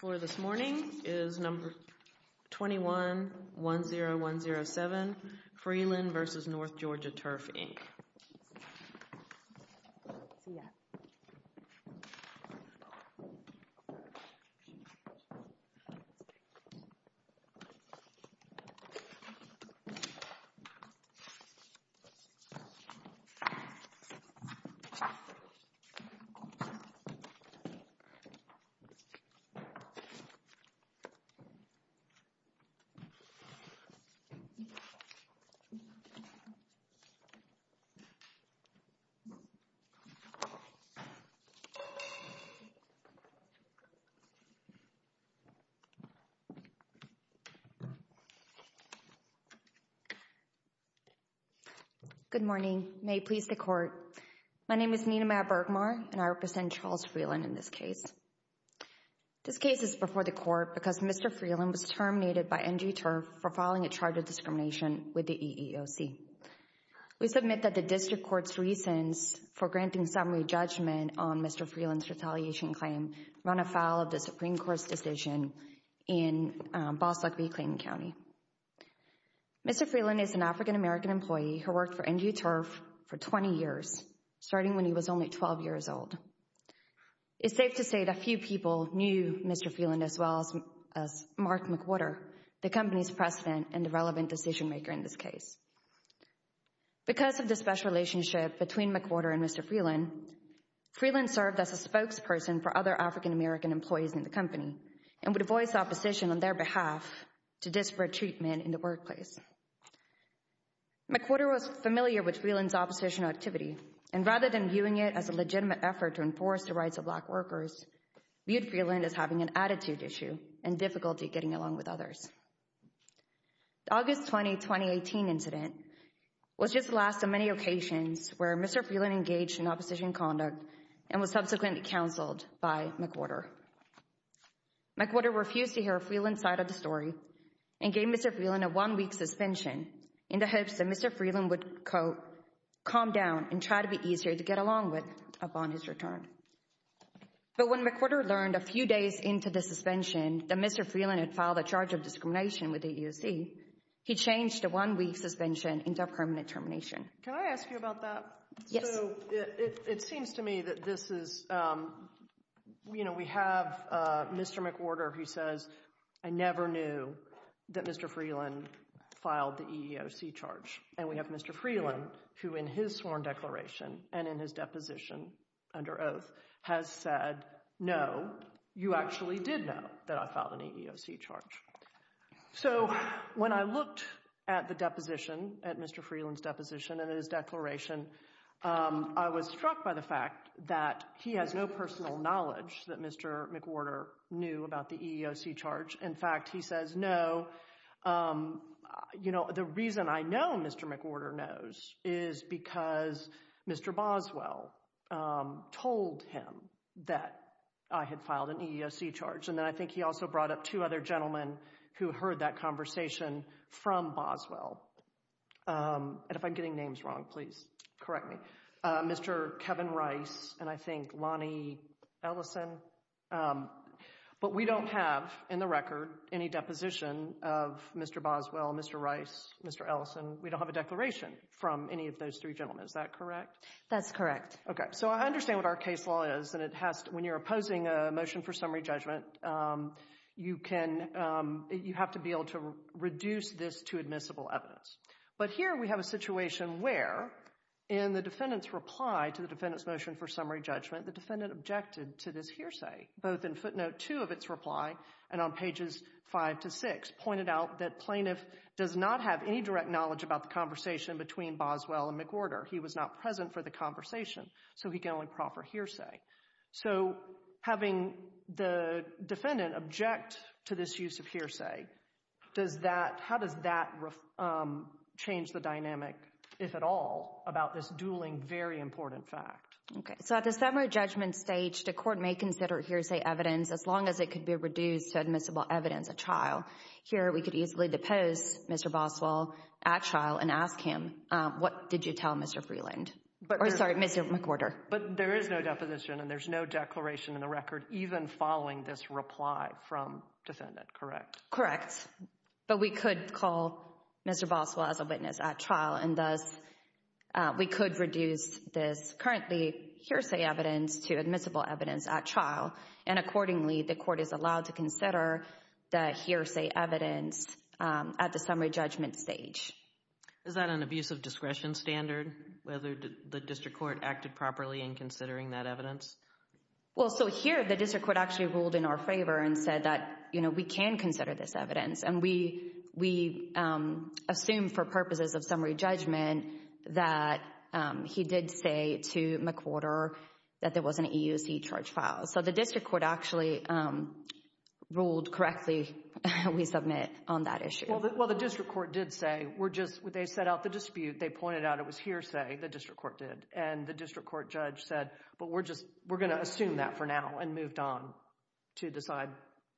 For this morning is number 21-10107 Freeland v. North Georgia Turf Inc. Good morning. May it please the court. My name is Nina Mabergmar and I represent Charles Freeland in this case. This case is before the court because Mr. Freeland was terminated by NG Turf for filing a charge of discrimination with the EEOC. We submit that the district court's reasons for granting summary judgment on Mr. Freeland's retaliation claim run afoul of the Supreme Court's decision in Bostock v. Clayton County. Mr. Freeland is an African American employee who worked for NG Turf for 20 years, starting when he was only 12 years old. It's safe to say that few people knew Mr. Freeland as well as Mark McWhorter, the company's president and the relevant decision maker in this case. Because of the special relationship between McWhorter and Mr. Freeland, Freeland served as a spokesperson for other African American employees in the company and would voice opposition on their behalf to disparate treatment in the workplace. McWhorter was familiar with Freeland's oppositional activity and rather than viewing it as a legitimate effort to enforce the rights of Black workers, viewed Freeland as having an attitude issue and difficulty getting along with others. The August 20, 2018 incident was just the last of many occasions where Mr. Freeland engaged in opposition conduct and was subsequently counseled by McWhorter. McWhorter refused to hear Freeland's side of the story and gave Mr. Freeland a one-week suspension in the hopes that Mr. Freeland would, quote, calm down and try to be easier to get along with upon his return. But when McWhorter learned a few days into the suspension that Mr. Freeland had filed a charge of discrimination with the EEOC, he changed the one-week suspension into a permanent termination. Can I ask you about that? Yes. So, it seems to me that this is, you know, we have Mr. McWhorter who says, I never knew that Mr. Freeland filed the EEOC charge. And we have Mr. Freeland who in his sworn declaration and in his deposition under oath has said, no, you actually did know that I filed an EEOC charge. So when I looked at the deposition, at Mr. Freeland's deposition and his declaration, I was struck by the fact that he has no personal knowledge that Mr. McWhorter knew about the EEOC charge. In fact, he says, no, you know, the reason I know Mr. McWhorter knows is because Mr. Boswell told him that I had filed an EEOC charge. And then I think he also brought up two other gentlemen who heard that conversation from Boswell. And if I'm getting names wrong, please correct me. Mr. Kevin Rice and I think Lonnie Ellison. But we don't have in the record any deposition of Mr. Boswell, Mr. Rice, Mr. Ellison. We don't have a declaration from any of those three gentlemen. Is that correct? That's correct. Okay. So I understand what our case law is and it has to, when you're opposing a motion for summary judgment, you can, you have to be able to reduce this to admissible evidence. But here we have a situation where in the defendant's reply to the defendant's motion for summary judgment, the defendant objected to this hearsay, both in footnote two of its reply and on pages five to six pointed out that plaintiff does not have any direct knowledge about the conversation between Boswell and McWhorter. He was not present for the conversation, so he can only proffer hearsay. So having the defendant object to this use of hearsay, does that, how does that change the dynamic, if at all, about this dueling very important fact? Okay. So at the summary judgment stage, the court may consider hearsay evidence as long as it could be reduced to admissible evidence at trial. Here we could easily depose Mr. Boswell at trial and ask him, what did you tell Mr. Freeland? Or sorry, Mr. McWhorter. But there is no deposition and there's no declaration in the record even following this reply from defendant, correct? Correct. But we could call Mr. Boswell as a witness at trial and thus we could reduce this currently hearsay evidence to admissible evidence at trial. And accordingly, the court is allowed to consider the hearsay evidence at the summary judgment stage. Is that an abuse of discretion standard, whether the district court acted properly in considering that evidence? Well, so here the district court actually ruled in our favor and said that, you know, we can consider this evidence. And we assume for purposes of summary judgment that he did say to McWhorter that there was an EUC charge file. So the district court actually ruled correctly, we submit, on that issue. Well, the district court did say, we're just, they set out the dispute, they pointed out it was hearsay, the district court did. And the district court judge said, but we're just, we're going to assume that for now and moved on to decide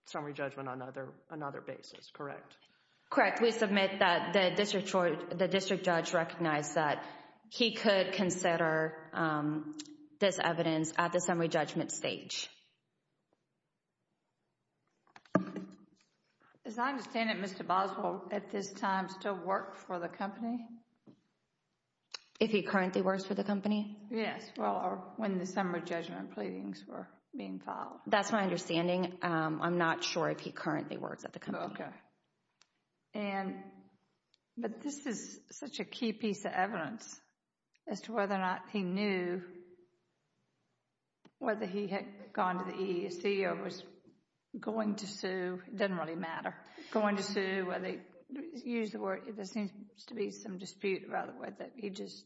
summary judgment on another, another basis, correct? Correct. We submit that the district judge recognized that he could consider this evidence at the summary judgment stage. As I understand it, Mr. Boswell, at this time, still works for the company? If he currently works for the company? Yes. Well, or when the summary judgment pleadings were being filed. That's my understanding. I'm not sure if he currently works at the company. Okay. And, but this is such a key piece of evidence as to whether or not he knew whether he had gone to the EEOC or was going to sue, it doesn't really matter. Going to sue, or they use the word, there seems to be some dispute, rather, with it. He just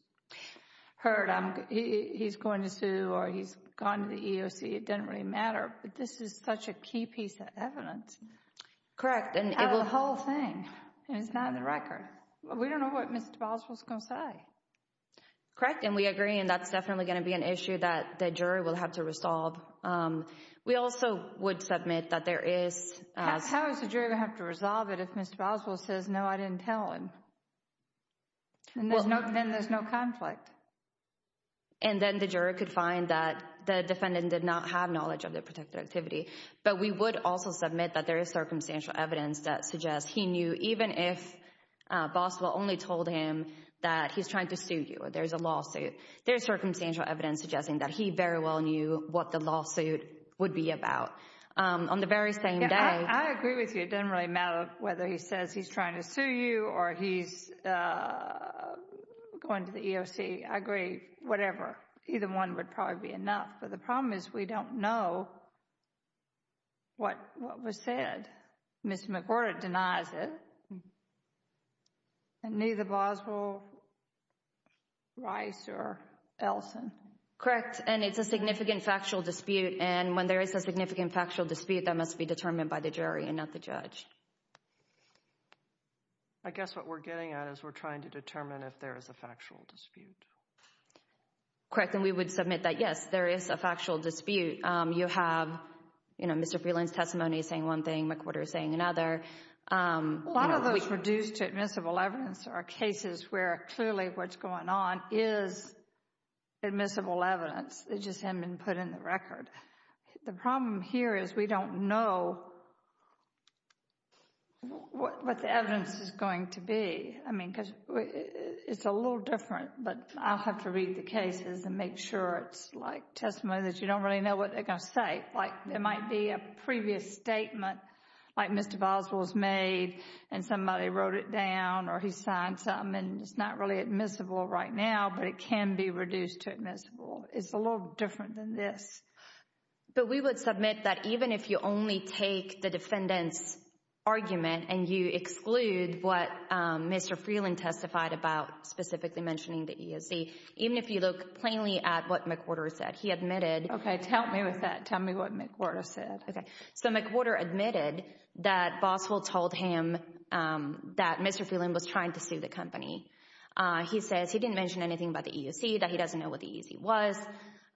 heard, he's going to sue or he's gone to the EEOC, it doesn't really matter. But this is such a key piece of evidence. Correct. And it will. Out of the whole thing. It's not in the record. We don't know what Mr. Boswell's going to say. Correct. Correct. And we agree, and that's definitely going to be an issue that the jury will have to resolve. We also would submit that there is. How is the jury going to have to resolve it if Mr. Boswell says, no, I didn't tell him? And then there's no conflict. And then the jury could find that the defendant did not have knowledge of the protected activity. But we would also submit that there is circumstantial evidence that suggests he knew, even if Boswell only told him that he's trying to sue you. There's a lawsuit. There's circumstantial evidence suggesting that he very well knew what the lawsuit would be about on the very same day. I agree with you. It doesn't really matter whether he says he's trying to sue you or he's going to the EEOC. I agree. Whatever. Either one would probably be enough. But the problem is we don't know what was said. Ms. McWhorter denies it. And neither Boswell, Rice, or Elson. Correct. And it's a significant factual dispute. And when there is a significant factual dispute, that must be determined by the jury and not the judge. I guess what we're getting at is we're trying to determine if there is a factual dispute. Correct. And we would submit that, yes, there is a factual dispute. You have, you know, Mr. Freeland's testimony saying one thing, McWhorter saying another. A lot of those reduced to admissible evidence are cases where clearly what's going on is admissible evidence. It just hasn't been put in the record. The problem here is we don't know what the evidence is going to be. I mean, because it's a little different. But I'll have to read the cases and make sure it's like testimony that you don't really know what they're going to say. Like, there might be a previous statement like Mr. Boswell's made and somebody wrote it down or he signed some and it's not really admissible right now, but it can be reduced to admissible. It's a little different than this. But we would submit that even if you only take the defendant's argument and you exclude what Mr. Freeland testified about specifically mentioning the EEOC, even if you look plainly at what McWhorter said, he admitted. Okay. Help me with that. Tell me what McWhorter said. Okay. So McWhorter admitted that Boswell told him that Mr. Freeland was trying to sue the company. He says he didn't mention anything about the EEOC, that he doesn't know what the EEOC was,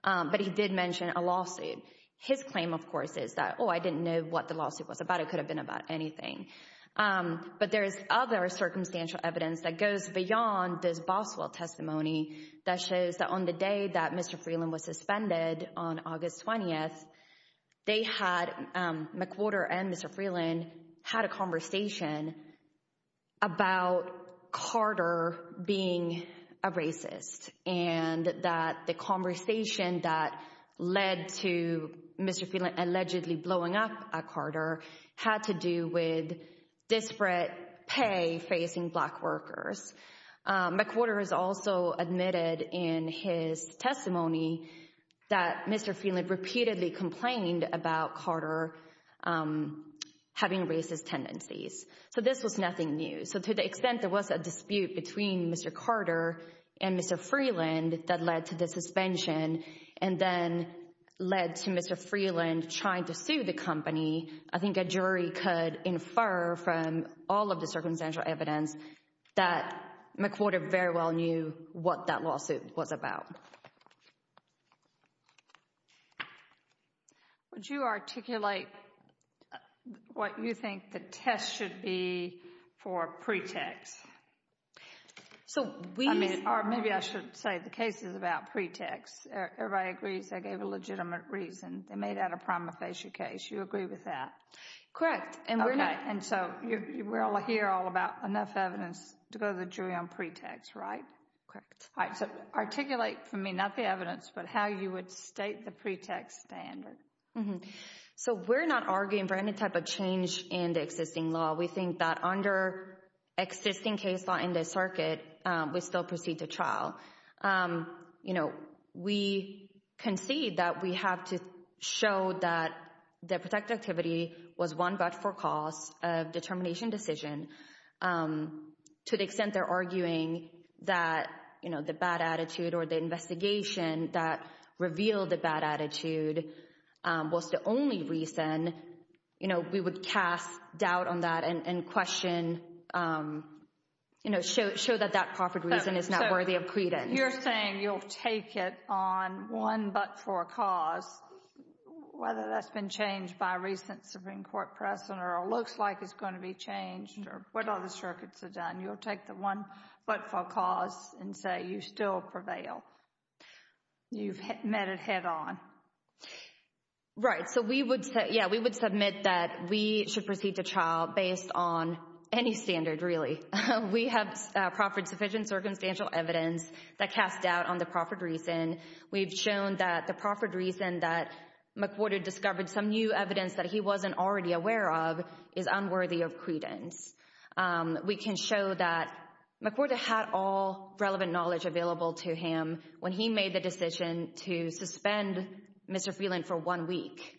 but he did mention a lawsuit. His claim, of course, is that, oh, I didn't know what the lawsuit was about. It could have been about anything. But there is other circumstantial evidence that goes beyond this Boswell testimony that shows that on the day that Mr. Freeland was suspended on August 20th, they had, McWhorter and Mr. Freeland had a conversation about Carter being a racist and that the conversation that led to Mr. Freeland allegedly blowing up Carter had to do with disparate pay facing black workers. McWhorter has also admitted in his testimony that Mr. Freeland repeatedly complained about Carter having racist tendencies. So this was nothing new. So to the extent there was a dispute between Mr. Carter and Mr. Freeland that led to the suspension and then led to Mr. Freeland trying to sue the company, I think a jury could infer from all of the circumstantial evidence that McWhorter very well knew what that lawsuit was about. Would you articulate what you think the test should be for pretext? So we... I mean, or maybe I should say the case is about pretext. Everybody agrees they gave a legitimate reason. They made that a prima facie case. You agree with that? Correct. And so we're all here all about enough evidence to go to the jury on pretext, right? Correct. All right. So articulate for me, not the evidence, but how you would state the pretext standard. So we're not arguing for any type of change in the existing law. We think that under existing case law in this circuit, we still proceed to trial. You know, we concede that we have to show that the protected activity was one but for cause of determination decision to the extent they're arguing that, you know, the bad attitude or the investigation that revealed the bad attitude was the only reason, you know, we would cast doubt on that and question, you know, show that that proffered reason is not worthy of credence. You're saying you'll take it on one but for a cause, whether that's been changed by recent Supreme Court precedent or it looks like it's going to be changed or what other circuits have done. You'll take the one but for cause and say you still prevail. You've met it head-on. Right. So we would say, yeah, we would submit that we should proceed to trial based on any standard, really. We have proffered sufficient circumstantial evidence that cast doubt on the proffered reason. We've shown that the proffered reason that McWhorter discovered some new evidence that he wasn't already aware of is unworthy of credence. We can show that McWhorter had all relevant knowledge available to him when he made the decision to suspend Mr. Freeland for one week.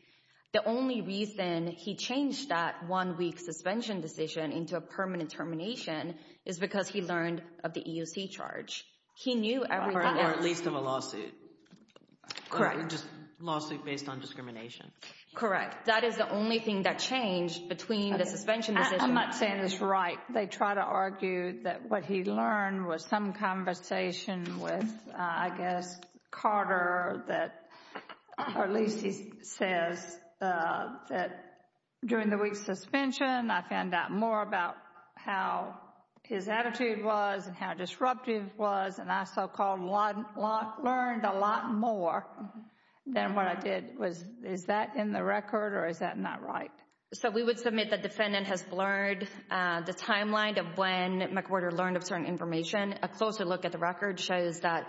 The only reason he changed that one-week suspension decision into a permanent termination is because he learned of the EOC charge. He knew everything else. Or at least of a lawsuit. Correct. Just a lawsuit based on discrimination. Correct. That is the only thing that changed between the suspension decision. I'm not saying it's right. They try to argue that what he learned was some conversation with, I guess, Carter that or at least he says that during the week's suspension, I found out more about how his attitude was and how disruptive it was and I so-called learned a lot more than what I did. Is that in the record or is that not right? So we would submit the defendant has learned the timeline of when McWhorter learned of certain information. A closer look at the record shows that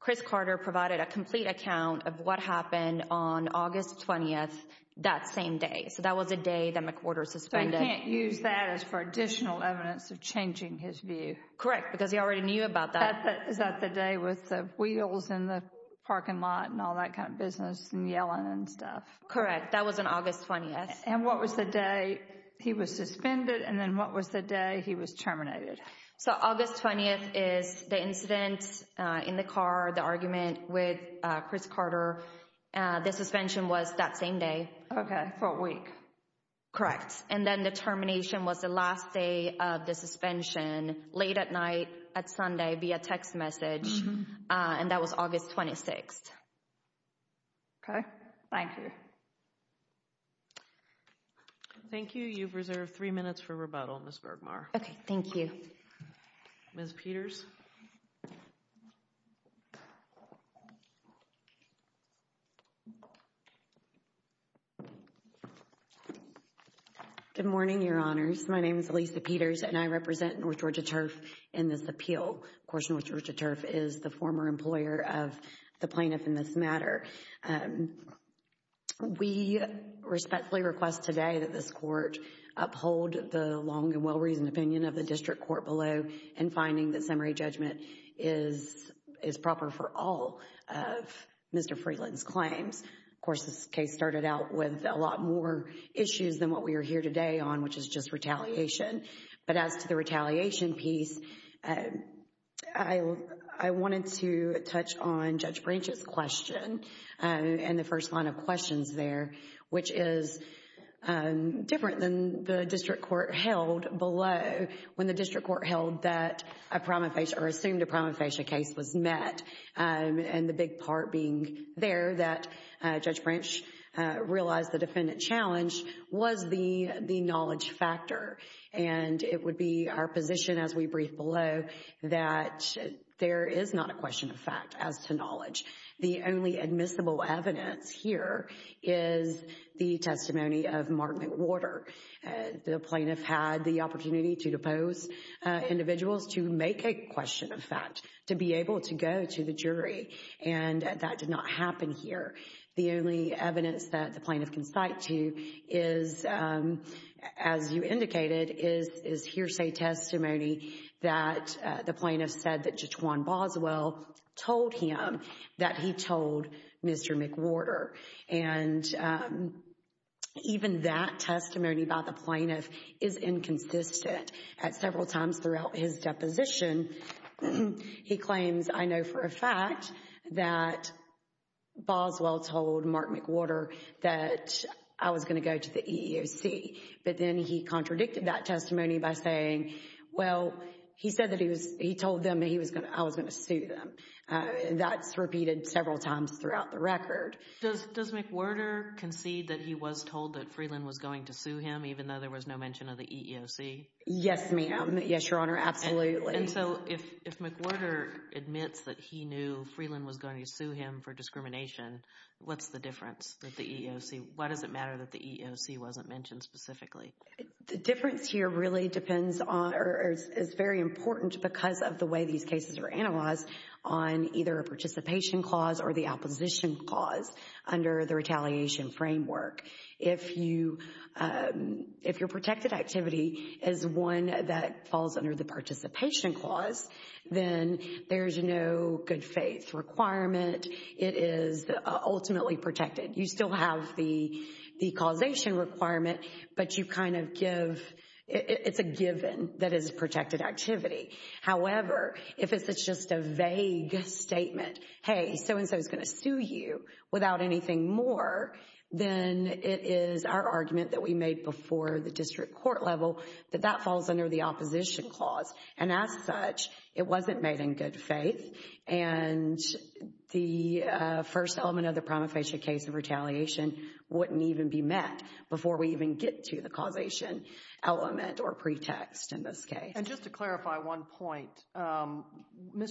Chris Carter provided a complete account of what happened on August 20th, that same day. So that was a day that McWhorter suspended. So you can't use that as for additional evidence of changing his view. Correct. Because he already knew about that. Is that the day with the wheels in the parking lot and all that kind of business and yelling and stuff? Correct. That was on August 20th. And what was the day he was suspended and then what was the day he was terminated? So August 20th is the incident in the car, the argument with Chris Carter. The suspension was that same day. Okay. For a week. Correct. And then the termination was the last day of the suspension, late at night, at Sunday via text message. And that was August 26th. Okay. Thank you. Thank you. You've reserved three minutes for rebuttal, Ms. Bergmar. Okay. Thank you. Ms. Peters. Good morning, Your Honors. My name is Lisa Peters and I represent North Georgia Turf in this appeal. Of course, North Georgia Turf is the former employer of the plaintiff in this matter. We respectfully request today that this court uphold the long and well-reasoned opinion of the district court below in finding that summary judgment is proper for all of Mr. Freeland's claims. Of course, this case started out with a lot more issues than what we are here today on, which is just retaliation. But as to the retaliation piece, I wanted to touch on Judge Branch's question and the first line of questions there, which is different than the district court held below when the district court held that a prima facie or assumed a prima facie case was met. And the big part being there that Judge Branch realized the defendant challenge was the knowledge factor and it would be our position as we brief below that there is not a question of fact as to knowledge. The only admissible evidence here is the testimony of Martin Warder. The plaintiff had the opportunity to depose individuals to make a question of fact, to be able to go to the jury, and that did not happen here. The only evidence that the plaintiff can cite to is, as you indicated, is hearsay testimony that the plaintiff said that Judge Juan Boswell told him that he told Mr. McWarder. And even that testimony by the plaintiff is inconsistent. At several times throughout his deposition, he claims, I know for a fact, that Boswell told Mark McWarder that I was going to go to the EEOC, but then he contradicted that testimony by saying, well, he said that he told them that I was going to sue them. That's repeated several times throughout the record. Does McWarder concede that he was told that Freeland was going to sue him even though there was no mention of the EEOC? Yes, ma'am. Yes, Your Honor. Absolutely. And so, if McWarder admits that he knew Freeland was going to sue him for discrimination, what's the difference that the EEOC, why does it matter that the EEOC wasn't mentioned specifically? The difference here really depends on, or is very important because of the way these cases are analyzed on either a participation clause or the opposition clause under the retaliation framework. If your protected activity is one that falls under the participation clause, then there's no good faith requirement. It is ultimately protected. You still have the causation requirement, but you kind of give, it's a given that it's a protected activity. However, if it's just a vague statement, hey, so-and-so is going to sue you without anything more, then it is our argument that we made before the district court level that that falls under the opposition clause. And as such, it wasn't made in good faith, and the first element of the prima facie case of retaliation wouldn't even be met before we even get to the causation element or pretext in this case. And just to clarify one point, Mr.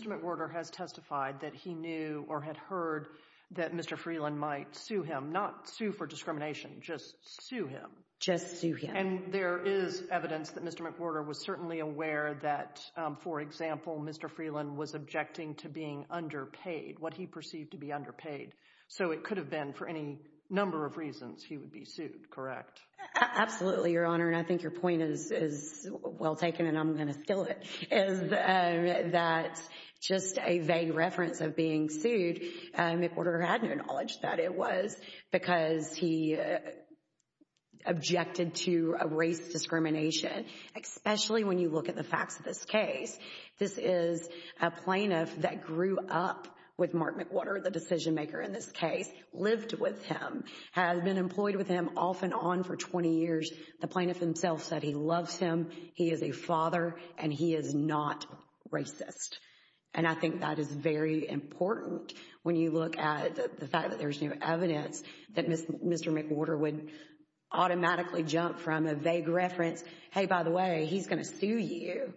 McWarder has testified that he knew or had heard that Mr. Freeland might sue him, not sue for discrimination, just sue him. Just sue him. And there is evidence that Mr. McWarder was certainly aware that, for example, Mr. Freeland was objecting to being underpaid, what he perceived to be underpaid. So it could have been, for any number of reasons, he would be sued, correct? Absolutely, Your Honor, and I think your point is well taken and I'm going to steal it, is that just a vague reference of being sued, McWarder had no knowledge that it was because he objected to a race discrimination, especially when you look at the facts of this case. This is a plaintiff that grew up with Mark McWarder, the decision maker in this case, lived with him, has been employed with him off and on for 20 years. The plaintiff himself said he loves him, he is a father, and he is not racist. And I think that is very important when you look at the fact that there's new evidence that Mr. McWarder would automatically jump from a vague reference, hey, by the way, he's going to sue you,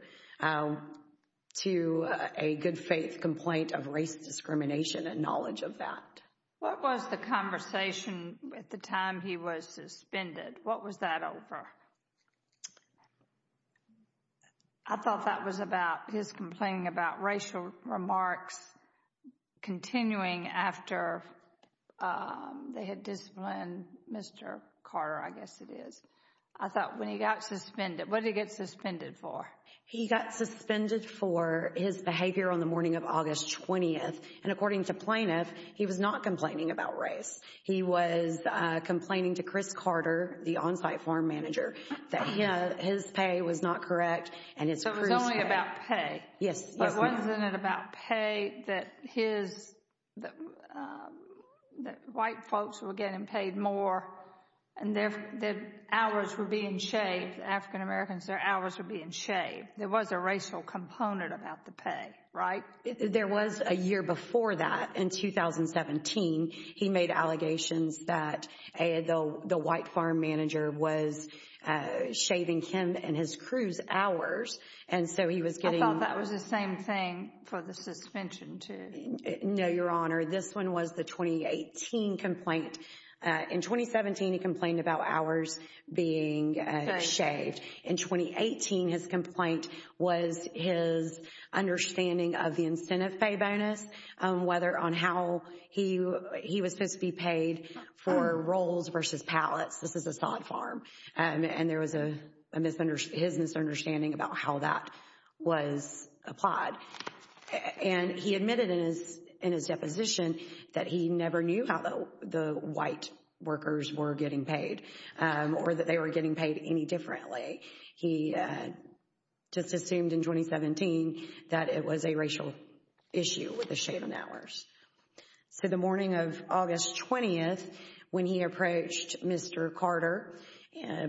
to a good faith complaint of race discrimination and knowledge of that. What was the conversation at the time he was suspended? What was that over? I thought that was about his complaining about racial remarks continuing after they had disciplined Mr. Carter, I guess it is. I thought when he got suspended, what did he get suspended for? He got suspended for his behavior on the morning of August 20th, and according to plaintiff, he was not complaining about race. He was complaining to Chris Carter, the on-site farm manager, that his pay was not correct. So it was only about pay? Yes. Wasn't it about pay that white folks were getting paid more and their hours were being shaved, African-Americans, their hours were being shaved? There was a racial component about the pay, right? There was a year before that. In 2017, he made allegations that the white farm manager was shaving him and his crews hours, and so he was getting- I thought that was the same thing for the suspension, too. No, Your Honor. This one was the 2018 complaint. In 2017, he complained about hours being shaved. In 2018, his complaint was his understanding of the incentive pay bonus, whether on how he was supposed to be paid for rolls versus pallets. This is a sod farm. And there was his misunderstanding about how that was applied. And he admitted in his deposition that he never knew how the white workers were getting paid or that they were getting paid any differently. He just assumed in 2017 that it was a racial issue with the shaving hours. So the morning of August 20th, when he approached Mr. Carter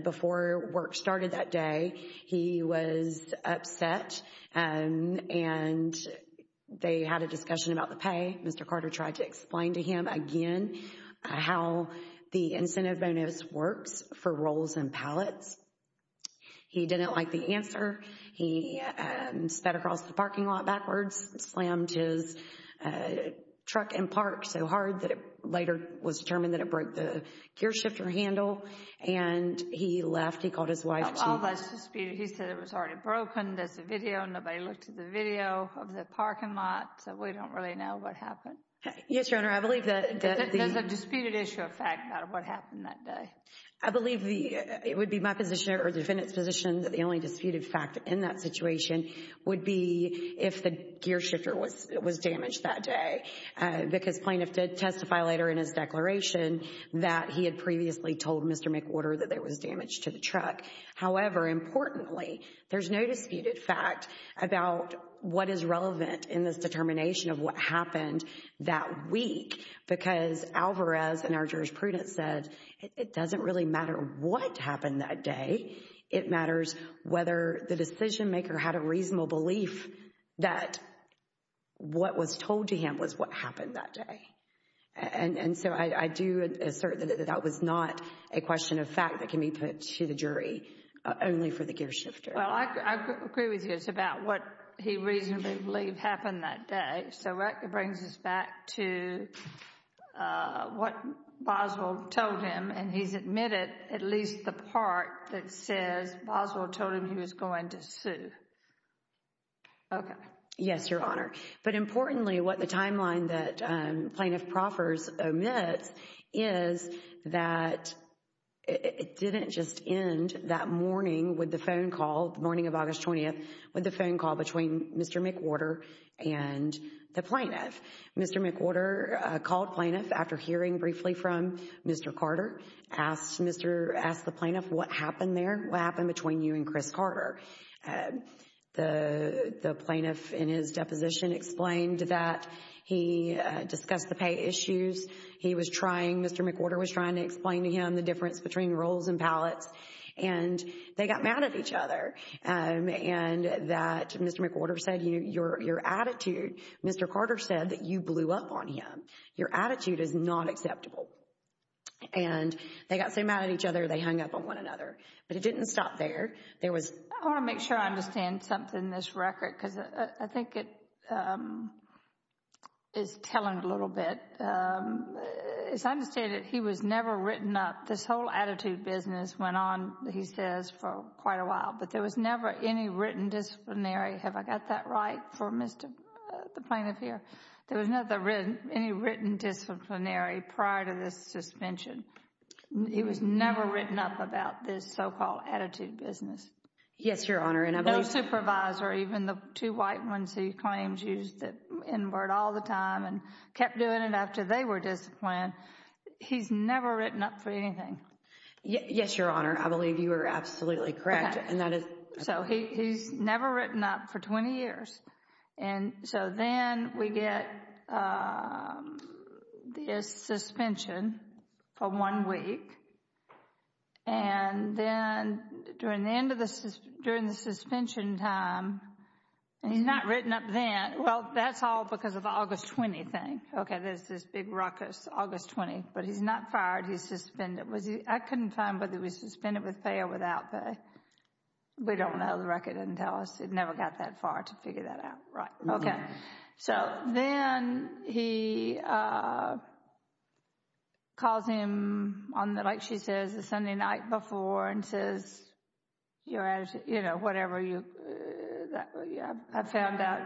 before work started that day, he was upset and they had a discussion about the pay. Mr. Carter tried to explain to him again how the incentive bonus works for rolls and pallets. He didn't like the answer. He sped across the parking lot backwards, slammed his truck and parked so hard that it later was determined that it broke the gear shifter handle. And he left. He called his wife to- All of us disputed. He said it was already broken. There's a video. Nobody looked at the video of the parking lot. So we don't really know what happened. Yes, Your Honor, I believe that- There's a disputed issue of fact about what happened that day. I believe it would be my position or the defendant's position that the only disputed fact in that situation would be if the gear shifter was damaged that day. Because plaintiff did testify later in his declaration that he had previously told Mr. McWhorter that there was damage to the truck. However, importantly, there's no disputed fact about what is relevant in this determination of what happened that week because Alvarez and our jurisprudence said it doesn't really matter what happened that day. It matters whether the decision maker had a reasonable belief that what was told to him was what happened that day. And so I do assert that that was not a question of fact that can be put to the jury only for the gear shifter. Well, I agree with you. It's about what he reasonably believed happened that day. So that brings us back to what Boswell told him. And he's admitted at least the part that says Boswell told him he was going to sue. Okay. Yes, Your Honor. But importantly, what the timeline that plaintiff proffers omits is that it didn't just end that morning with the phone call, the morning of August 20th, with the phone call between Mr. McWhorter and the plaintiff. Mr. McWhorter called plaintiff after hearing briefly from Mr. Carter, asked the plaintiff what happened there, what happened between you and Chris Carter. And the plaintiff in his deposition explained that he discussed the pay issues. He was trying, Mr. McWhorter was trying to explain to him the difference between rolls and pallets. And they got mad at each other and that Mr. McWhorter said, you know, your attitude, Mr. Carter said that you blew up on him. Your attitude is not acceptable. And they got so mad at each other, they hung up on one another. But it didn't stop there. There was... I want to make sure I understand something in this record because I think it is telling a little bit. It's understated he was never written up. This whole attitude business went on, he says, for quite a while. But there was never any written disciplinary. Have I got that right for Mr.... the plaintiff here? There was never any written disciplinary prior to this suspension. He was never written up about this so-called attitude business. Yes, Your Honor, and I believe... No supervisor, even the two white ones he claims used the N-word all the time and kept doing it after they were disciplined. He's never written up for anything. Yes, Your Honor. I believe you are absolutely correct. And that is... So he's never written up for 20 years. And so then we get this suspension for one week. And then during the end of the... during the suspension time, and he's not written up then. Well, that's all because of the August 20 thing. Okay, there's this big ruckus, August 20. But he's not fired. He's suspended. Was he... I couldn't find whether he was suspended with pay or without pay. We don't know. The record doesn't tell us. It never got that far to figure that out. Right. Okay. So then he calls him on, like she says, the Sunday night before and says, you know, whatever you... I found out...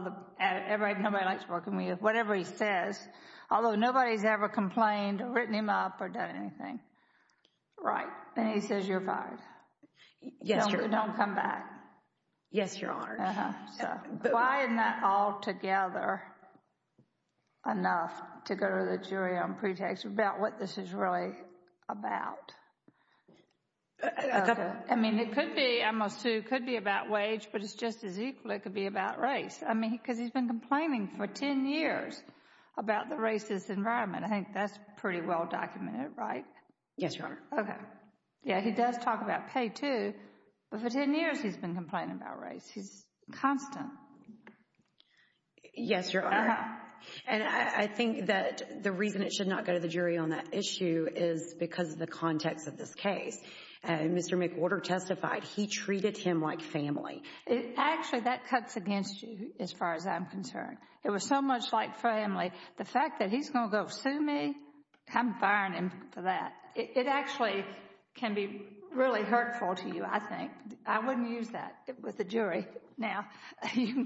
nobody likes working with you. Whatever he says, although nobody's ever complained or written him up or done anything. Right. And he says, you're fired. Yes, Your Honor. Don't come back. Yes, Your Honor. Why isn't that all together enough to go to the jury on pretext about what this is really about? I mean, it could be, I must say, it could be about wage, but it's just as equally it could be about race. I mean, because he's been complaining for 10 years about the racist environment. I think that's pretty well documented, right? Yes, Your Honor. Okay. Yeah, he does talk about pay too, but for 10 years he's been complaining about race. He's constant. Yes, Your Honor. And I think that the reason it should not go to the jury on that issue is because of the context of this case. Mr. McWhorter testified he treated him like family. Actually, that cuts against you as far as I'm concerned. It was so much like family. The fact that he's going to go sue me, I'm firing him for that. It actually can be really hurtful to you, I think. I wouldn't use that with the jury. Now, you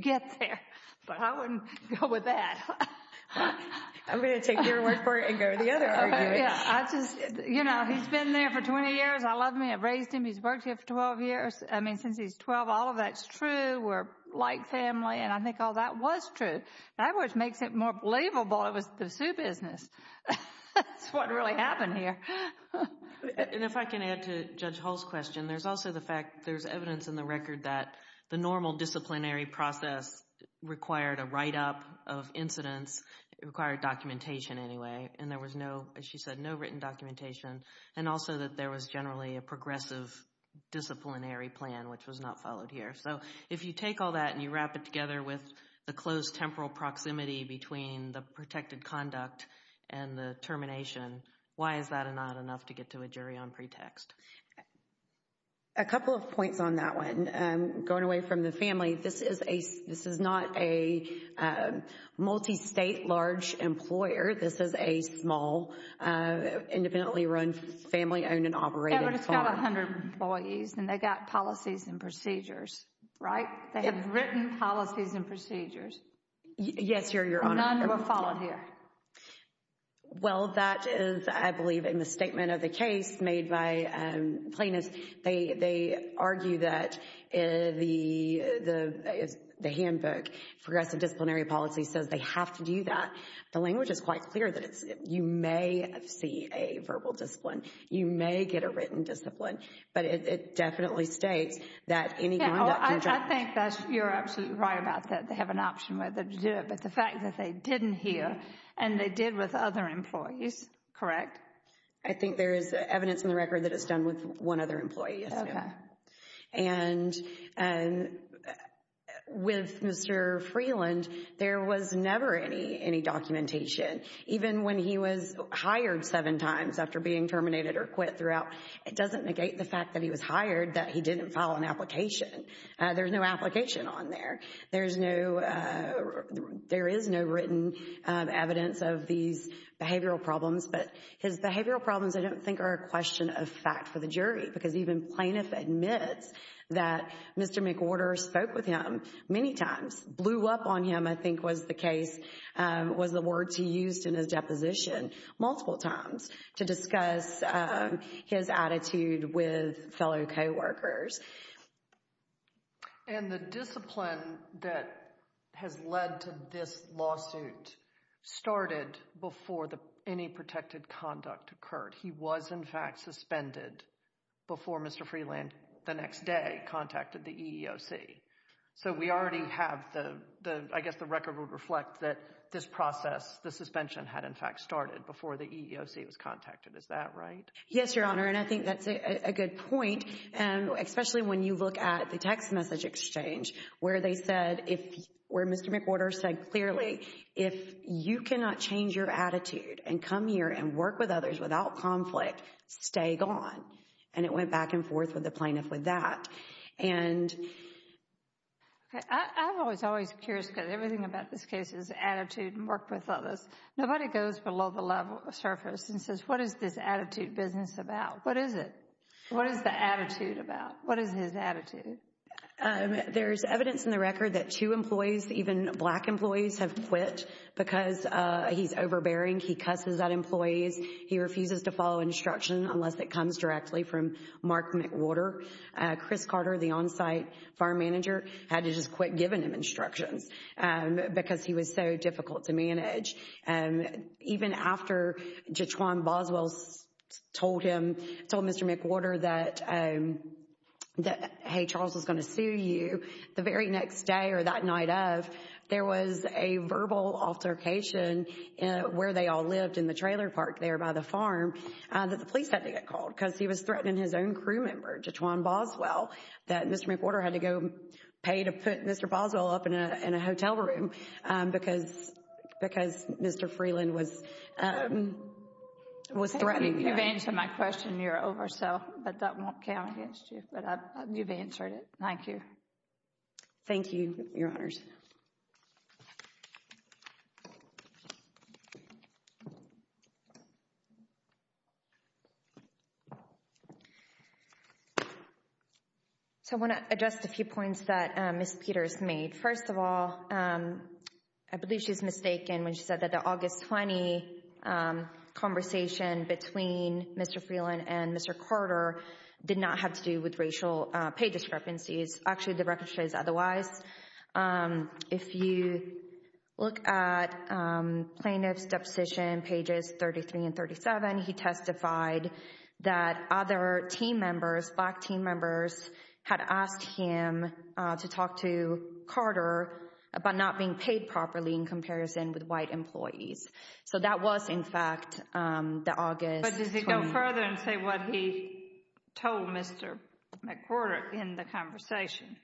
get there, but I wouldn't go with that. I'm going to take your word for it and go to the other argument. Yeah, I just, you know, he's been there for 20 years. I love him. I've raised him. He's worked here for 12 years. I mean, since he's 12, all of that's true. We're like family. And I think all that was true. That was makes it more believable. It was the sue business. That's what really happened here. And if I can add to Judge Hall's question, there's also the fact there's evidence in the record that the normal disciplinary process required a write-up of incidents. It required documentation anyway. And there was no, as she said, no written documentation. And also that there was generally a progressive disciplinary plan, which was not followed here. So if you take all that and you wrap it together with the close temporal proximity between the protected conduct and the termination, why is that not enough to get to a jury on pretext? A couple of points on that one. Going away from the family, this is a, this is not a multi-state large employer. This is a small, independently run, family owned and operated farm. Yeah, but it's got 100 employees and they got policies and procedures, right? They have written policies and procedures. Yes, Your Honor. None were followed here. Well, that is, I believe, in the statement of the case made by Plaintiffs, they argue that the handbook, progressive disciplinary policy, says they have to do that. The language is quite clear that you may see a verbal discipline. You may get a written discipline. But it definitely states that any conduct. I think you're absolutely right about that. They have an option whether to do it. But the fact that they didn't here and they did with other employees, correct? I think there is evidence in the record that it's done with one other employee. And with Mr. Freeland, there was never any documentation. Even when he was hired seven times after being terminated or quit throughout, it doesn't negate the fact that he was hired, that he didn't file an application. There's no application on there. There's no, there is no written evidence of these behavioral problems. But his behavioral problems, I don't think, are a question of fact for the jury. Because even Plaintiff admits that Mr. McWhorter spoke with him many times, blew up on him, I think was the case, was the words he used in his deposition multiple times to discuss his attitude with fellow co-workers. And the discipline that has led to this lawsuit started before any protected conduct occurred. He was in fact suspended before Mr. Freeland the next day contacted the EEOC. So we already have the, I guess the record would reflect that this process, the suspension had in fact started before the EEOC was contacted. Is that right? Yes, Your Honor. And I think that's a good point. And especially when you look at the text message exchange where they said if, where Mr. McWhorter said clearly, if you cannot change your attitude and come here and work with others without conflict, stay gone. And it went back and forth with the Plaintiff with that. And I was always curious because everything about this case is attitude and work with others. Nobody goes below the level surface and says, what is this attitude business about? What is it? What is his attitude? There's evidence in the record that two employees, even black employees have quit because he's overbearing. He cusses at employees. He refuses to follow instruction unless it comes directly from Mark McWhorter. Chris Carter, the on-site farm manager, had to just quit giving him instructions because he was so difficult to manage. Even after Jatwan Boswell told him, told Mr. McWhorter that, that hey, Charles is going to sue you, the very next day or that night of, there was a verbal altercation where they all lived in the trailer park there by the farm that the police had to get called because he was threatening his own crew member, Jatwan Boswell, that Mr. McWhorter had to go pay to put Mr. Boswell up in a hotel room because Mr. Freeland was threatening him. You've answered my question. You're over, so, but that won't count against you. But you've answered it. Thank you. Thank you, your honors. So I want to address a few points that Ms. Peters made. First of all, I believe she was mistaken when she said that the August 20 conversation between Mr. Freeland and Mr. Carter did not have to do with racial pay discrepancies. Actually, the record shows otherwise. If you look at plaintiff's deposition pages 33 and 37, he testified that other team members, black team members, had asked him to talk to Carter about not being paid properly in comparison with white employees. So that was, in fact, the August. But does he go further and say what he told Mr. McWhorter in the conversation?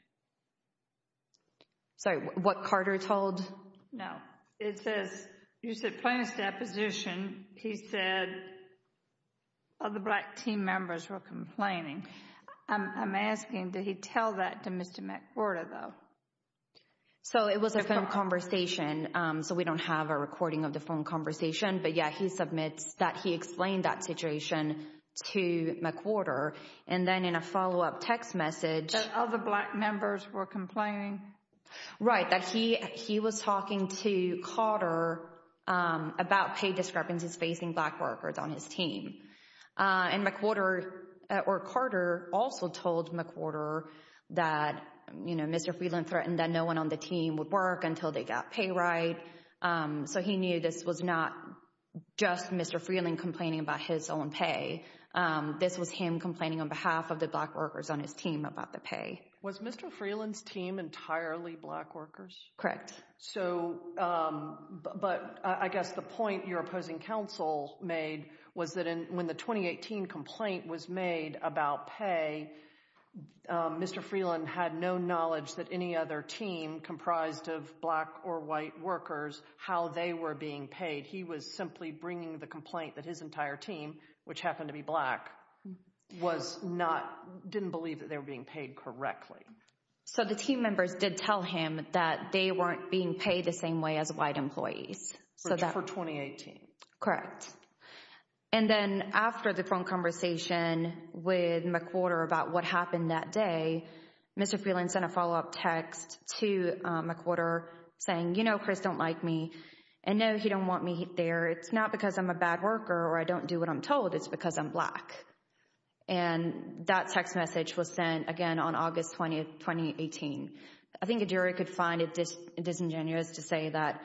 Sorry, what Carter told? No. It says, you said plaintiff's deposition, he said other black team members were complaining. I'm asking, did he tell that to Mr. McWhorter, though? So it was a phone conversation. So we don't have a recording of the phone conversation. But yeah, he submits that he explained that situation to McWhorter. And then in a follow-up text message. That other black members were complaining. Right, that he was talking to Carter about pay discrepancies facing black workers on his team. And McWhorter, or Carter, also told McWhorter that, you know, Mr. Freeland threatened that no one on the team would work until they got pay right. So he knew this was not just Mr. Freeland complaining about his own pay. This was him complaining on behalf of the black workers on his team about the pay. Was Mr. Freeland's team entirely black workers? Correct. So, but I guess the point your opposing counsel made was that when the 2018 complaint was made about pay, Mr. Freeland had no knowledge that any other team comprised of black or white workers, how they were being paid. He was simply bringing the complaint that his entire team, which happened to be black, was not, didn't believe that they were being paid correctly. So the team members did tell him that they weren't being paid the same way as white employees. So for 2018. Correct. And then after the phone conversation with McWhorter about what happened that day, Mr. Freeland sent a follow-up text to McWhorter saying, you know, Chris don't like me. And no, he don't want me there. It's not because I'm a bad worker or I don't do what I'm told. It's because I'm black. And that text message was sent again on August 20, 2018. I think a jury could find it disingenuous to say that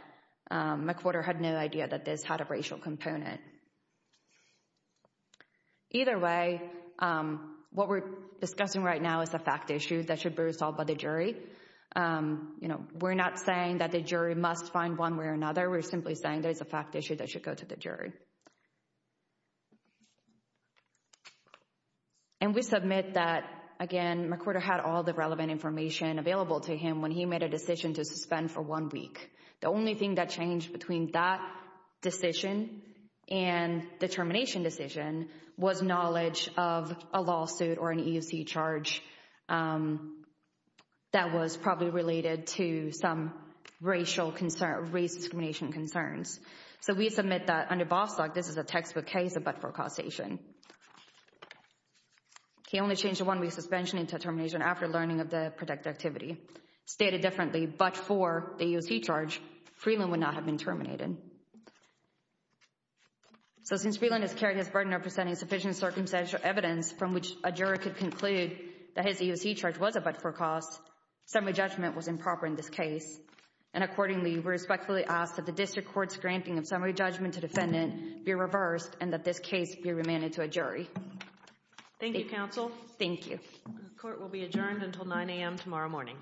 McWhorter had no idea that this had a racial component. Either way, what we're discussing right now is a fact issue that should be resolved by the jury. You know, we're not saying that the jury must find one way or another. We're simply saying there's a fact issue that should go to the jury. And we submit that, again, McWhorter had all the relevant information available to him when he made a decision to suspend for one week. The only thing that changed between that decision and the termination decision was knowledge of a lawsuit or an EUC charge that was probably related to some racial concern, race discrimination concerns. So we submit that under Bostock, this is a textbook case, but for causation. He only changed the one-week suspension into termination after learning of the protected activity. Stated differently, but for the EUC charge, Freeland would not have been terminated. So since Freeland is carrying his burden of presenting sufficient circumstantial evidence from which a jury could conclude that his EUC charge was a but for cause, summary judgment was improper in this case. And accordingly, we respectfully ask that the district court's granting of summary judgment Thank you, counsel. Thank you. Court will be adjourned until 9 a.m. tomorrow morning.